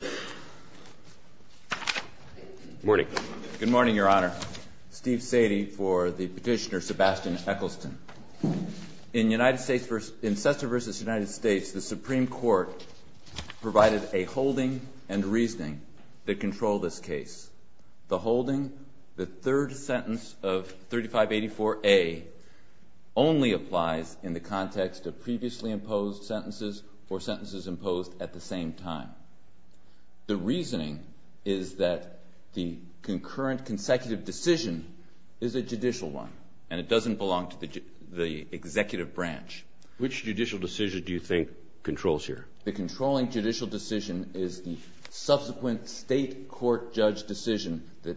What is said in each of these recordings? Supreme Court provided a holding and reasoning that control this case. The holding, the third sentence of 3584A, only applies in the context of previously imposed sentences or sentences imposed at the same time. The reasoning is that the concurrent consecutive decision is a judicial one and it doesn't belong to the executive branch. Which judicial decision do you think controls here? The controlling judicial decision is the subsequent state court judge decision that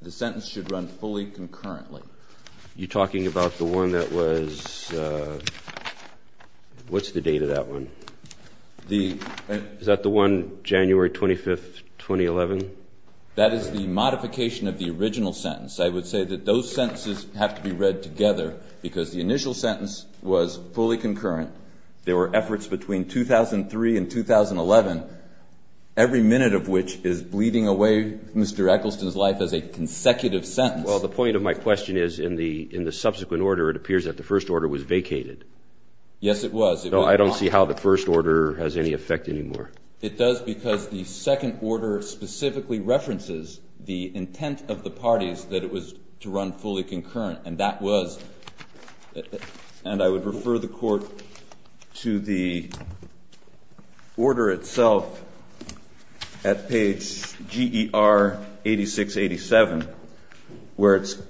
the sentence should run fully concurrently. You're talking about the one that was, what's the date of that one? Is that the one January 25, 2011? That is the modification of the original sentence. I would say that those sentences have to be read together because the initial sentence was fully concurrent. There were efforts between 2003 and 2011, every minute of which is bleeding away Mr. Eccleston's life as a consecutive sentence. Well, the point of my question is in the subsequent order it appears that the first order was vacated. Yes, it was. So I don't see how the first order has any effect anymore. It does because the second order specifically references the intent of the parties that it was to run fully concurrent. And that was, and I would refer the court to the order itself at page GER 8687 where it's,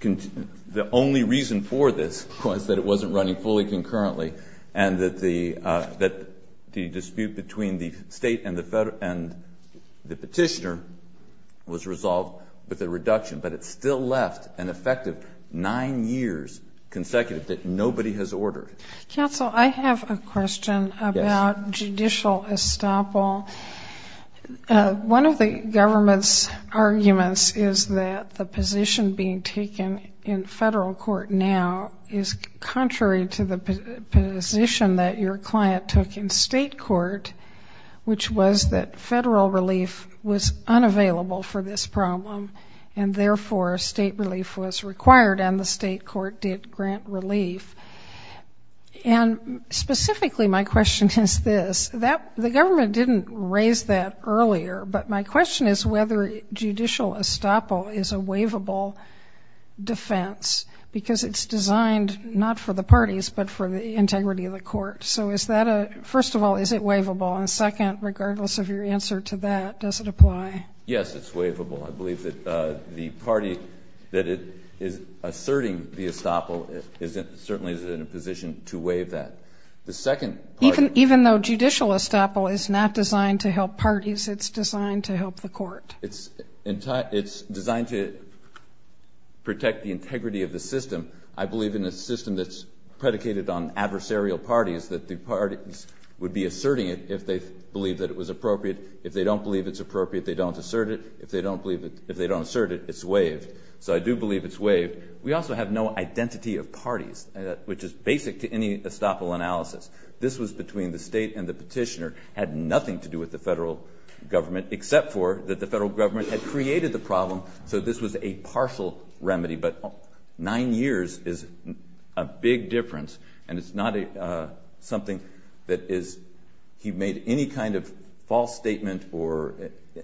the only reason for this was that it wasn't running fully concurrently. And that the dispute between the state and the petitioner was resolved with a reduction. But it still left an effective nine years consecutive that nobody has ordered. Counsel, I have a question about judicial estoppel. One of the government's arguments is that the position being taken in federal court now is contrary to the position that your client took in state court, which was that federal relief was unavailable for this problem. And therefore state relief was required and the state court did grant relief. And specifically my question is this. The government didn't raise that earlier, but my question is whether judicial estoppel is a waivable defense. Because it's designed not for the parties but for the integrity of the court. So is that a, first of all, is it waivable? And second, regardless of your answer to that, does it apply? Yes, it's waivable. I believe that the party that is asserting the estoppel certainly is in a position to waive that. The second part of it. Even though judicial estoppel is not designed to help parties, it's designed to help the court. It's designed to protect the integrity of the system. I believe in a system that's predicated on adversarial parties that the parties would be asserting it if they believe that it was appropriate. If they don't believe it's appropriate, they don't assert it. If they don't believe it, if they don't assert it, it's waived. So I do believe it's waived. We also have no identity of parties, which is basic to any estoppel analysis. This was between the state and the petitioner. It had nothing to do with the federal government except for that the federal government had created the problem, so this was a partial remedy. But nine years is a big difference, and it's not something that is he made any kind of false statement or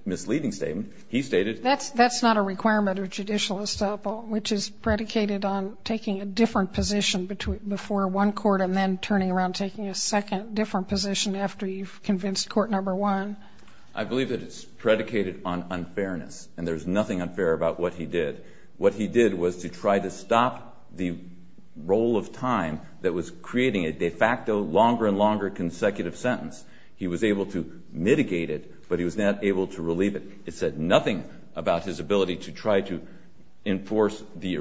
misleading statement. He stated. That's not a requirement of judicial estoppel, which is predicated on taking a different position before one court and then turning around and taking a second different position after you've convinced court number one. I believe that it's predicated on unfairness, and there's nothing unfair about what he did. What he did was to try to stop the roll of time that was creating a de facto longer and longer consecutive sentence. He was able to mitigate it, but he was not able to relieve it. It said nothing about his ability to try to enforce the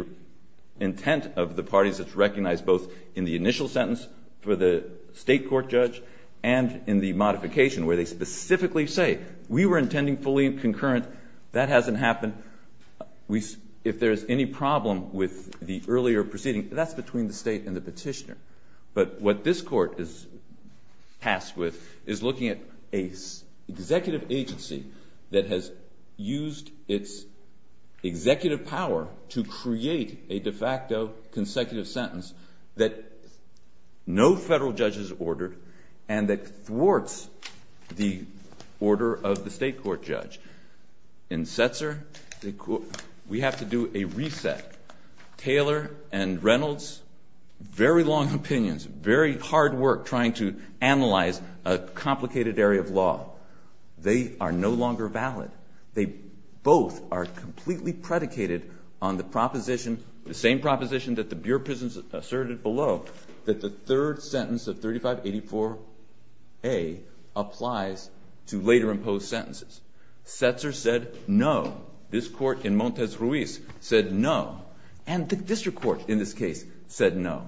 intent of the parties that's recognized both in the initial sentence for the state court judge and in the modification where they specifically say, we were intending fully concurrent. That hasn't happened. If there's any problem with the earlier proceeding, that's between the state and the petitioner. But what this court is tasked with is looking at an executive agency that has used its executive power to create a de facto consecutive sentence that no federal judge has ordered and that thwarts the order of the state court judge. In Setzer, we have to do a reset. Taylor and Reynolds, very long opinions, very hard work trying to analyze a complicated area of law. They are no longer valid. They both are completely predicated on the proposition, the same proposition that the Bureau of Prisons asserted below, that the third sentence of 3584A applies to later imposed sentences. Setzer said no. This court in Montes Ruiz said no. And the district court in this case said no.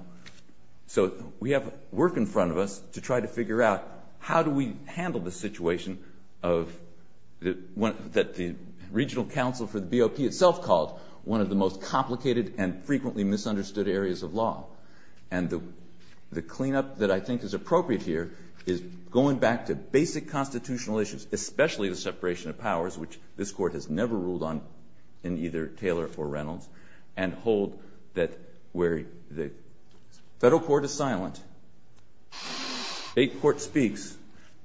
So we have work in front of us to try to figure out how do we handle the situation that the regional council for the BOP itself called one of the most complicated and frequently misunderstood areas of law. And the cleanup that I think is appropriate here is going back to basic constitutional issues, especially the separation of powers, which this court has never ruled on in either Taylor or Reynolds, and hold that where the federal court is silent, state court speaks,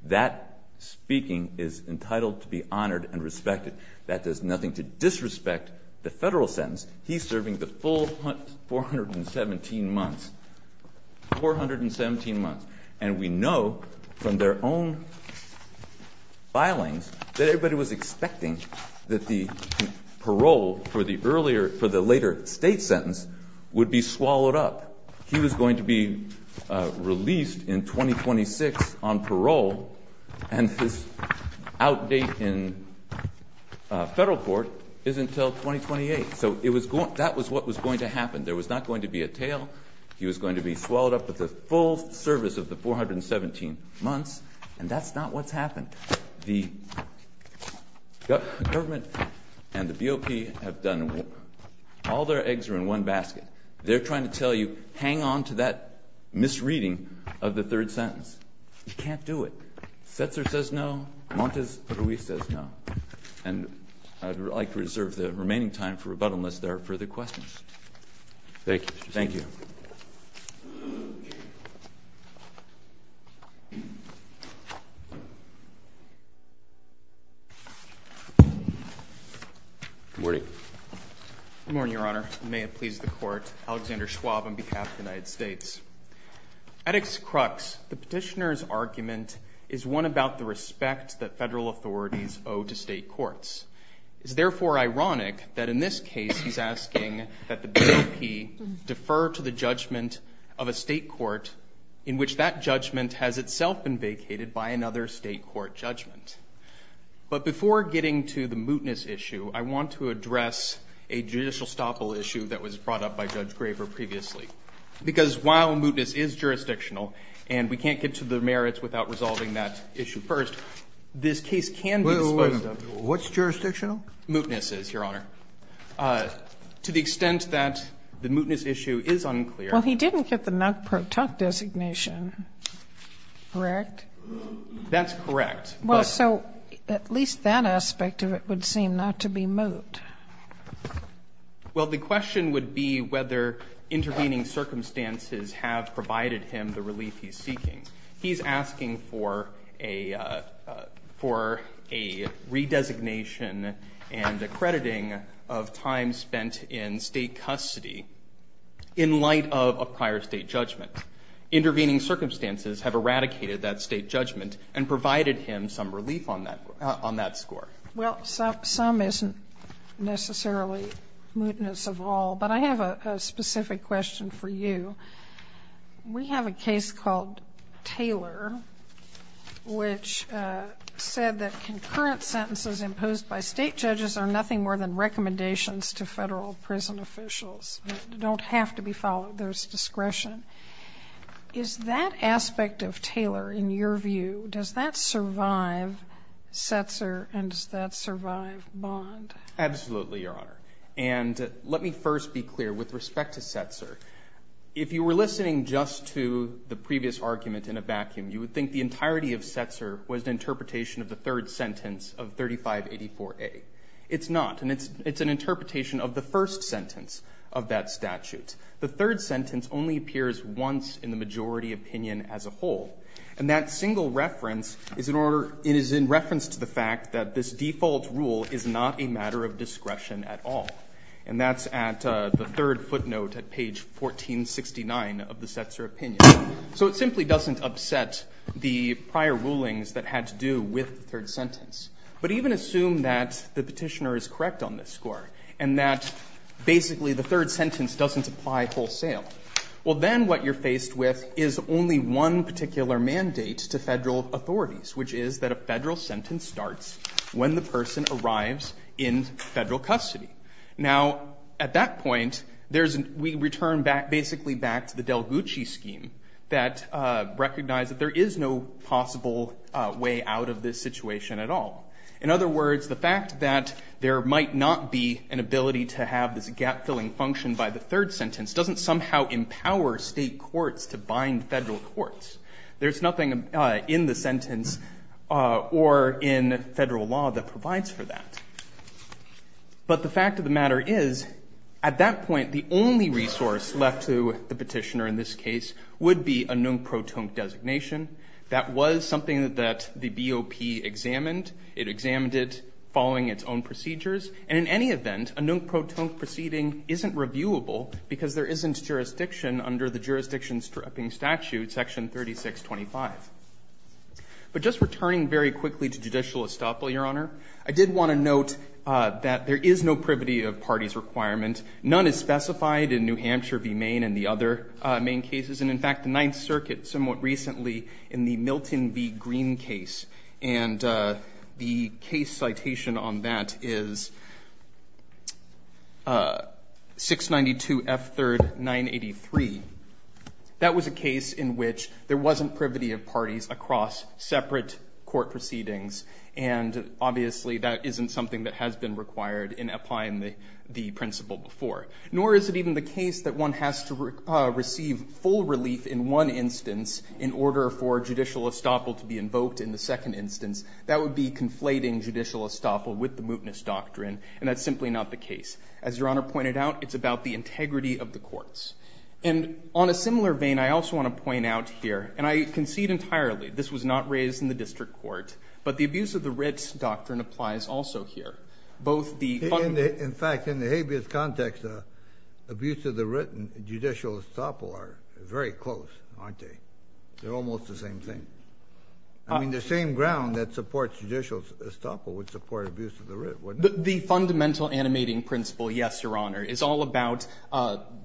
that speaking is entitled to be honored and respected. That does nothing to disrespect the federal sentence. He's serving the full 417 months, 417 months. And we know from their own filings that everybody was expecting that the parole for the later state sentence would be swallowed up. He was going to be released in 2026 on parole, and his outdate in federal court is until 2028. So that was what was going to happen. There was not going to be a tail. He was going to be swallowed up with the full service of the 417 months, and that's not what's happened. The government and the BOP have done all their eggs are in one basket. They're trying to tell you hang on to that misreading of the third sentence. You can't do it. Setzer says no. Montes Ruiz says no. And I'd like to reserve the remaining time for rebuttal unless there are further questions. Thank you. Thank you. Good morning. Good morning, Your Honor. May it please the Court. Alexander Schwab on behalf of the United States. At its crux, the petitioner's argument is one about the respect that federal authorities owe to state courts. It's therefore ironic that in this case he's asking that the BOP defer to the judgment of a state court in which that judgment has itself been vacated by another state court judgment. But before getting to the mootness issue, I want to address a judicial stoppal issue that was brought up by Judge Graver previously. Because while mootness is jurisdictional, and we can't get to the merits without resolving that issue first, this case can be disposed of. Wait a minute. What's jurisdictional? Mootness is, Your Honor. To the extent that the mootness issue is unclear. Well, he didn't get the NUC-PROTUC designation, correct? That's correct. Well, so at least that aspect of it would seem not to be moot. Well, the question would be whether intervening circumstances have provided him the relief he's seeking. He's asking for a redesignation and accrediting of time spent in state custody in light of a prior state judgment. Intervening circumstances have eradicated that state judgment and provided him some relief on that score. Well, some isn't necessarily mootness of all, but I have a specific question for you. We have a case called Taylor, which said that concurrent sentences imposed by state judges are nothing more than recommendations to federal prison officials. They don't have to be followed. There's discretion. Is that aspect of Taylor, in your view, does that survive Setzer and does that survive Bond? Absolutely, Your Honor. And let me first be clear with respect to Setzer. If you were listening just to the previous argument in a vacuum, you would think the entirety of Setzer was an interpretation of the third sentence of 3584A. It's not, and it's an interpretation of the first sentence of that statute. The third sentence only appears once in the majority opinion as a whole. And that single reference is in reference to the fact that this default rule is not a matter of discretion at all. And that's at the third footnote at page 1469 of the Setzer opinion. So it simply doesn't upset the prior rulings that had to do with the third sentence. But even assume that the Petitioner is correct on this score and that basically the third sentence doesn't apply wholesale. Well, then what you're faced with is only one particular mandate to Federal authorities, which is that a Federal sentence starts when the person arrives in Federal custody. Now, at that point, we return basically back to the Del Gucci scheme that recognized that there is no possible way out of this situation at all. In other words, the fact that there might not be an ability to have this gap-filling function by the third sentence doesn't somehow empower State courts to bind Federal courts. There's nothing in the sentence or in Federal law that provides for that. But the fact of the matter is, at that point, the only resource left to the Petitioner in this case would be a non-proton designation. That was something that the BOP examined. It examined it following its own procedures. And in any event, a non-proton proceeding isn't reviewable because there isn't jurisdiction under the Jurisdiction Stripping Statute, Section 3625. But just returning very quickly to judicial estoppel, Your Honor, I did want to note that there is no privity of parties requirement. None is specified in New Hampshire v. Maine and the other Maine cases. And in fact, the Ninth Circuit somewhat recently in the Milton v. Green case, and the case citation on that is 692 F. 3rd, 983. That was a case in which there wasn't privity of parties across separate court proceedings, and obviously that isn't something that has been required in applying the principle before. Nor is it even the case that one has to receive full relief in one instance in order for judicial estoppel to be invoked in the second instance. That would be conflating judicial estoppel with the mootness doctrine, and that's simply not the case. As Your Honor pointed out, it's about the integrity of the courts. And on a similar vein, I also want to point out here, and I concede entirely this was not raised in the district court, but the abuse of the writ doctrine applies also here. In fact, in the habeas context, abuse of the writ and judicial estoppel are very close, aren't they? They're almost the same thing. I mean, the same ground that supports judicial estoppel would support abuse of the writ, wouldn't it? The fundamental animating principle, yes, Your Honor, is all about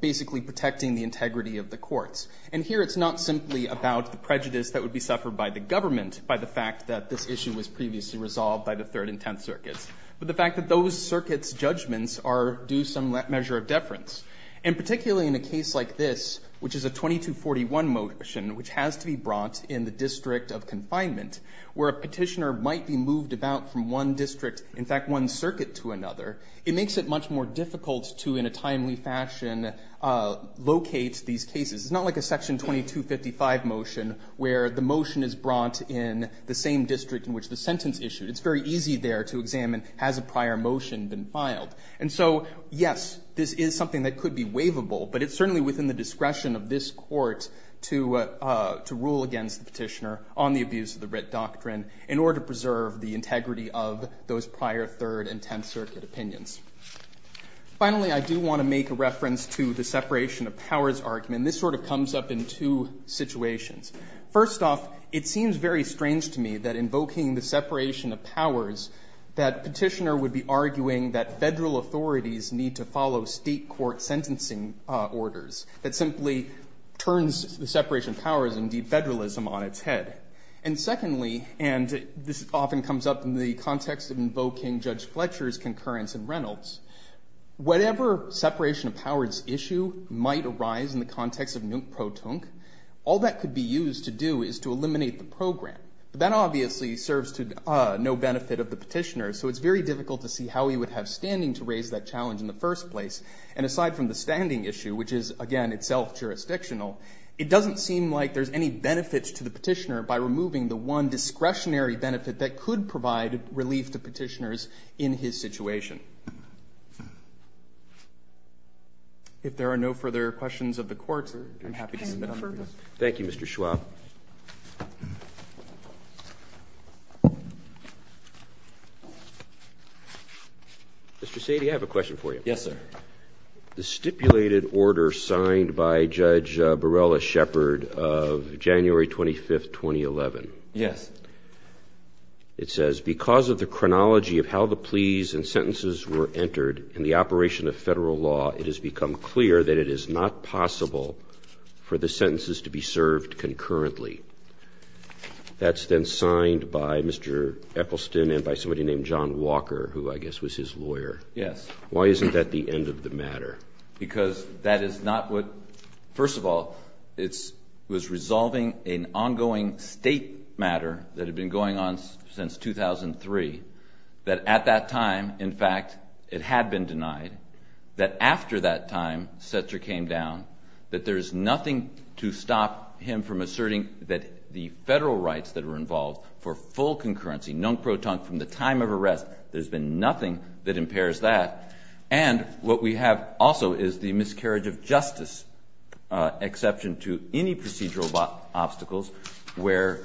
basically protecting the integrity of the courts. And here it's not simply about the prejudice that would be suffered by the government by the fact that this issue was previously resolved by the Third and Tenth Circuits, but the fact that those circuits' judgments are due some measure of deference. And particularly in a case like this, which is a 2241 motion, which has to be brought in the district of confinement, where a petitioner might be moved about from one district, in fact, one circuit to another, it makes it much more difficult to, in a timely fashion, locate these cases. It's not like a Section 2255 motion, where the motion is brought in the same district in which the sentence is issued. It's very easy there to examine, has a prior motion been filed? And so, yes, this is something that could be waivable, but it's certainly within the discretion of this Court to rule against the petitioner on the abuse of the writ doctrine in order to preserve the integrity of those prior Third and Tenth Circuit opinions. Finally, I do want to make a reference to the separation of powers argument. This sort of comes up in two situations. First off, it seems very strange to me that invoking the separation of powers, that petitioner would be arguing that Federal authorities need to follow State court sentencing orders. That simply turns the separation of powers and de-Federalism on its head. And secondly, and this often comes up in the context of invoking Judge Fletcher's concurrence in Reynolds, whatever separation of powers issue might arise in the context of nunc pro tunc, all that could be used to do is to eliminate the program. But that obviously serves to no benefit of the petitioner, so it's very difficult to see how he would have standing to raise that challenge in the first place. And aside from the standing issue, which is, again, itself jurisdictional, it doesn't seem like there's any benefit to the petitioner by removing the one discretionary benefit that could provide relief to petitioners in his situation. If there are no further questions of the Court, I'm happy to submit further. Thank you, Mr. Schwab. Mr. Sady, I have a question for you. Yes, sir. The stipulated order signed by Judge Borrella-Shepard of January 25th, 2011. Yes. It says, because of the chronology of how the pleas and sentences were entered in the operation of federal law, it has become clear that it is not possible for the sentences to be served concurrently. That's then signed by Mr. Eppleston and by somebody named John Walker, who I guess was his lawyer. Yes. Why isn't that the end of the matter? Because that is not what, first of all, it was resolving an ongoing state matter that had been going on since 2003, that at that time, in fact, it had been denied, that after that time, Setzer came down, that there is nothing to stop him from asserting that the federal rights that were involved for full concurrency, non-proton, from the time of arrest, there's been nothing that impairs that. And what we have also is the miscarriage of justice exception to any procedural obstacles, where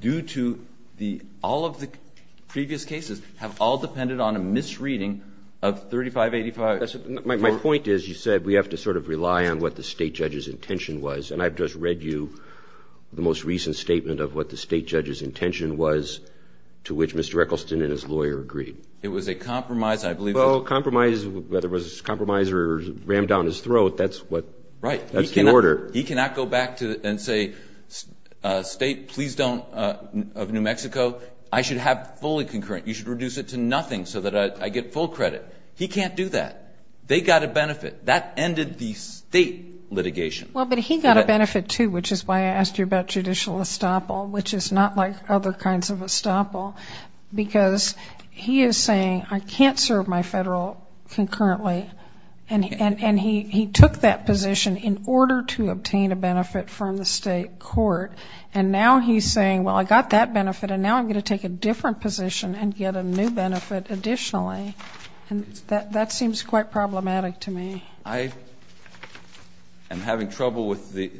due to all of the previous cases have all depended on a misreading of 3585. My point is, you said we have to sort of rely on what the state judge's intention was, and I've just read you the most recent statement of what the state judge's intention was, to which Mr. Eppleston and his lawyer agreed. It was a compromise, I believe. Well, compromise, whether it was a compromise or rammed down his throat, that's what, that's the order. He cannot go back and say, state, please don't, of New Mexico, I should have fully concurrent. You should reduce it to nothing so that I get full credit. He can't do that. They got a benefit. That ended the state litigation. Well, but he got a benefit, too, which is why I asked you about judicial estoppel, which is not like other kinds of estoppel, because he is saying, I can't serve my federal concurrently, and he took that position in order to obtain a benefit from the state court, and now he's saying, well, I got that benefit, and now I'm going to take a different position and get a new benefit additionally. And that seems quite problematic to me. I am having trouble with the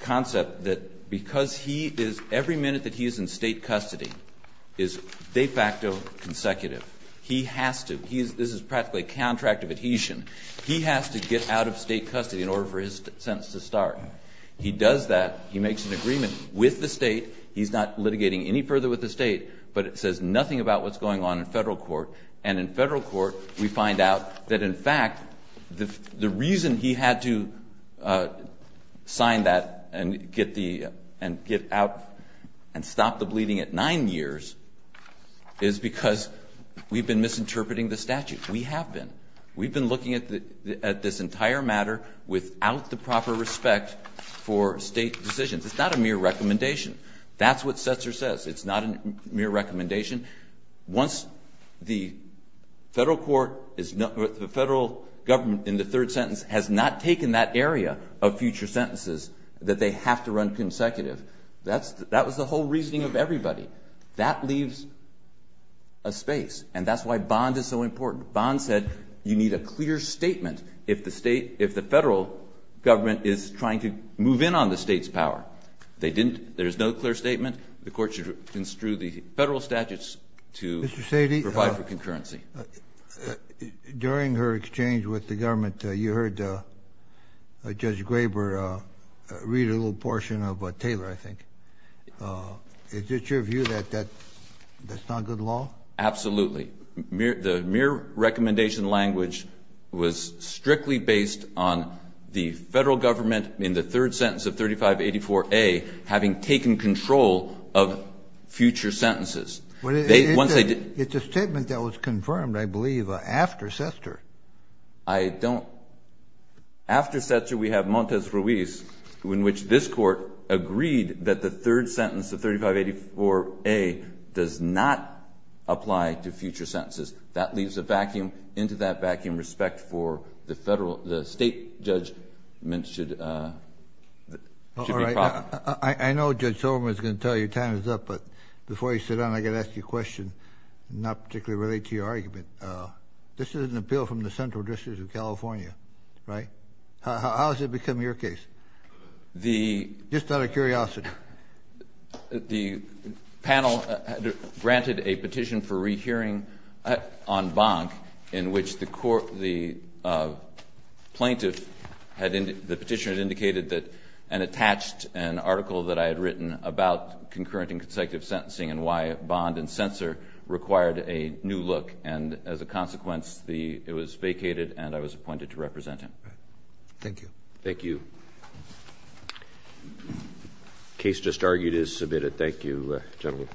concept that because he is, every minute that he is in state custody is de facto consecutive. He has to. This is practically a contract of adhesion. He has to get out of state custody in order for his sentence to start. He does that. He makes an agreement with the state. He's not litigating any further with the state, but it says nothing about what's going on in federal court. And in federal court, we find out that, in fact, the reason he had to sign that and get out and stop the bleeding at nine years is because we've been misinterpreting the statute. We have been. We've been looking at this entire matter without the proper respect for state decisions. It's not a mere recommendation. That's what Setzer says. It's not a mere recommendation. Once the federal government in the third sentence has not taken that area of future sentences that they have to run consecutive, that was the whole reasoning of That leaves a space, and that's why Bond is so important. Bond said you need a clear statement if the federal government is trying to move in on the state's power. There's no clear statement. The court should construe the federal statutes to provide for concurrency. Mr. Sady, during her exchange with the government, you heard Judge Graber read a little portion of Taylor, I think. Is it your view that that's not good law? Absolutely. The mere recommendation language was strictly based on the federal government in the third sentence of 3584A having taken control of future sentences. It's a statement that was confirmed, I believe, after Setzer. I don't. After Setzer, we have Montes Ruiz, in which this court agreed that the third sentence of 3584A does not apply to future sentences. That leaves a vacuum. Into that vacuum, respect for the state judgment should be proper. I know Judge Silverman is going to tell you time is up, but before you sit down, I've got to ask you a question, not particularly related to your argument. This is an appeal from the Central District of California, right? How has it become your case? Just out of curiosity. The panel granted a petition for rehearing on Bonk in which the plaintiff had indicated, the petitioner had indicated that and attached an article that I had written about concurrent and consecutive sentencing and why Bond and Setzer required a new look. And as a consequence, it was vacated and I was appointed to represent him. Thank you. Thank you. Case just argued is submitted. Thank you, gentlemen.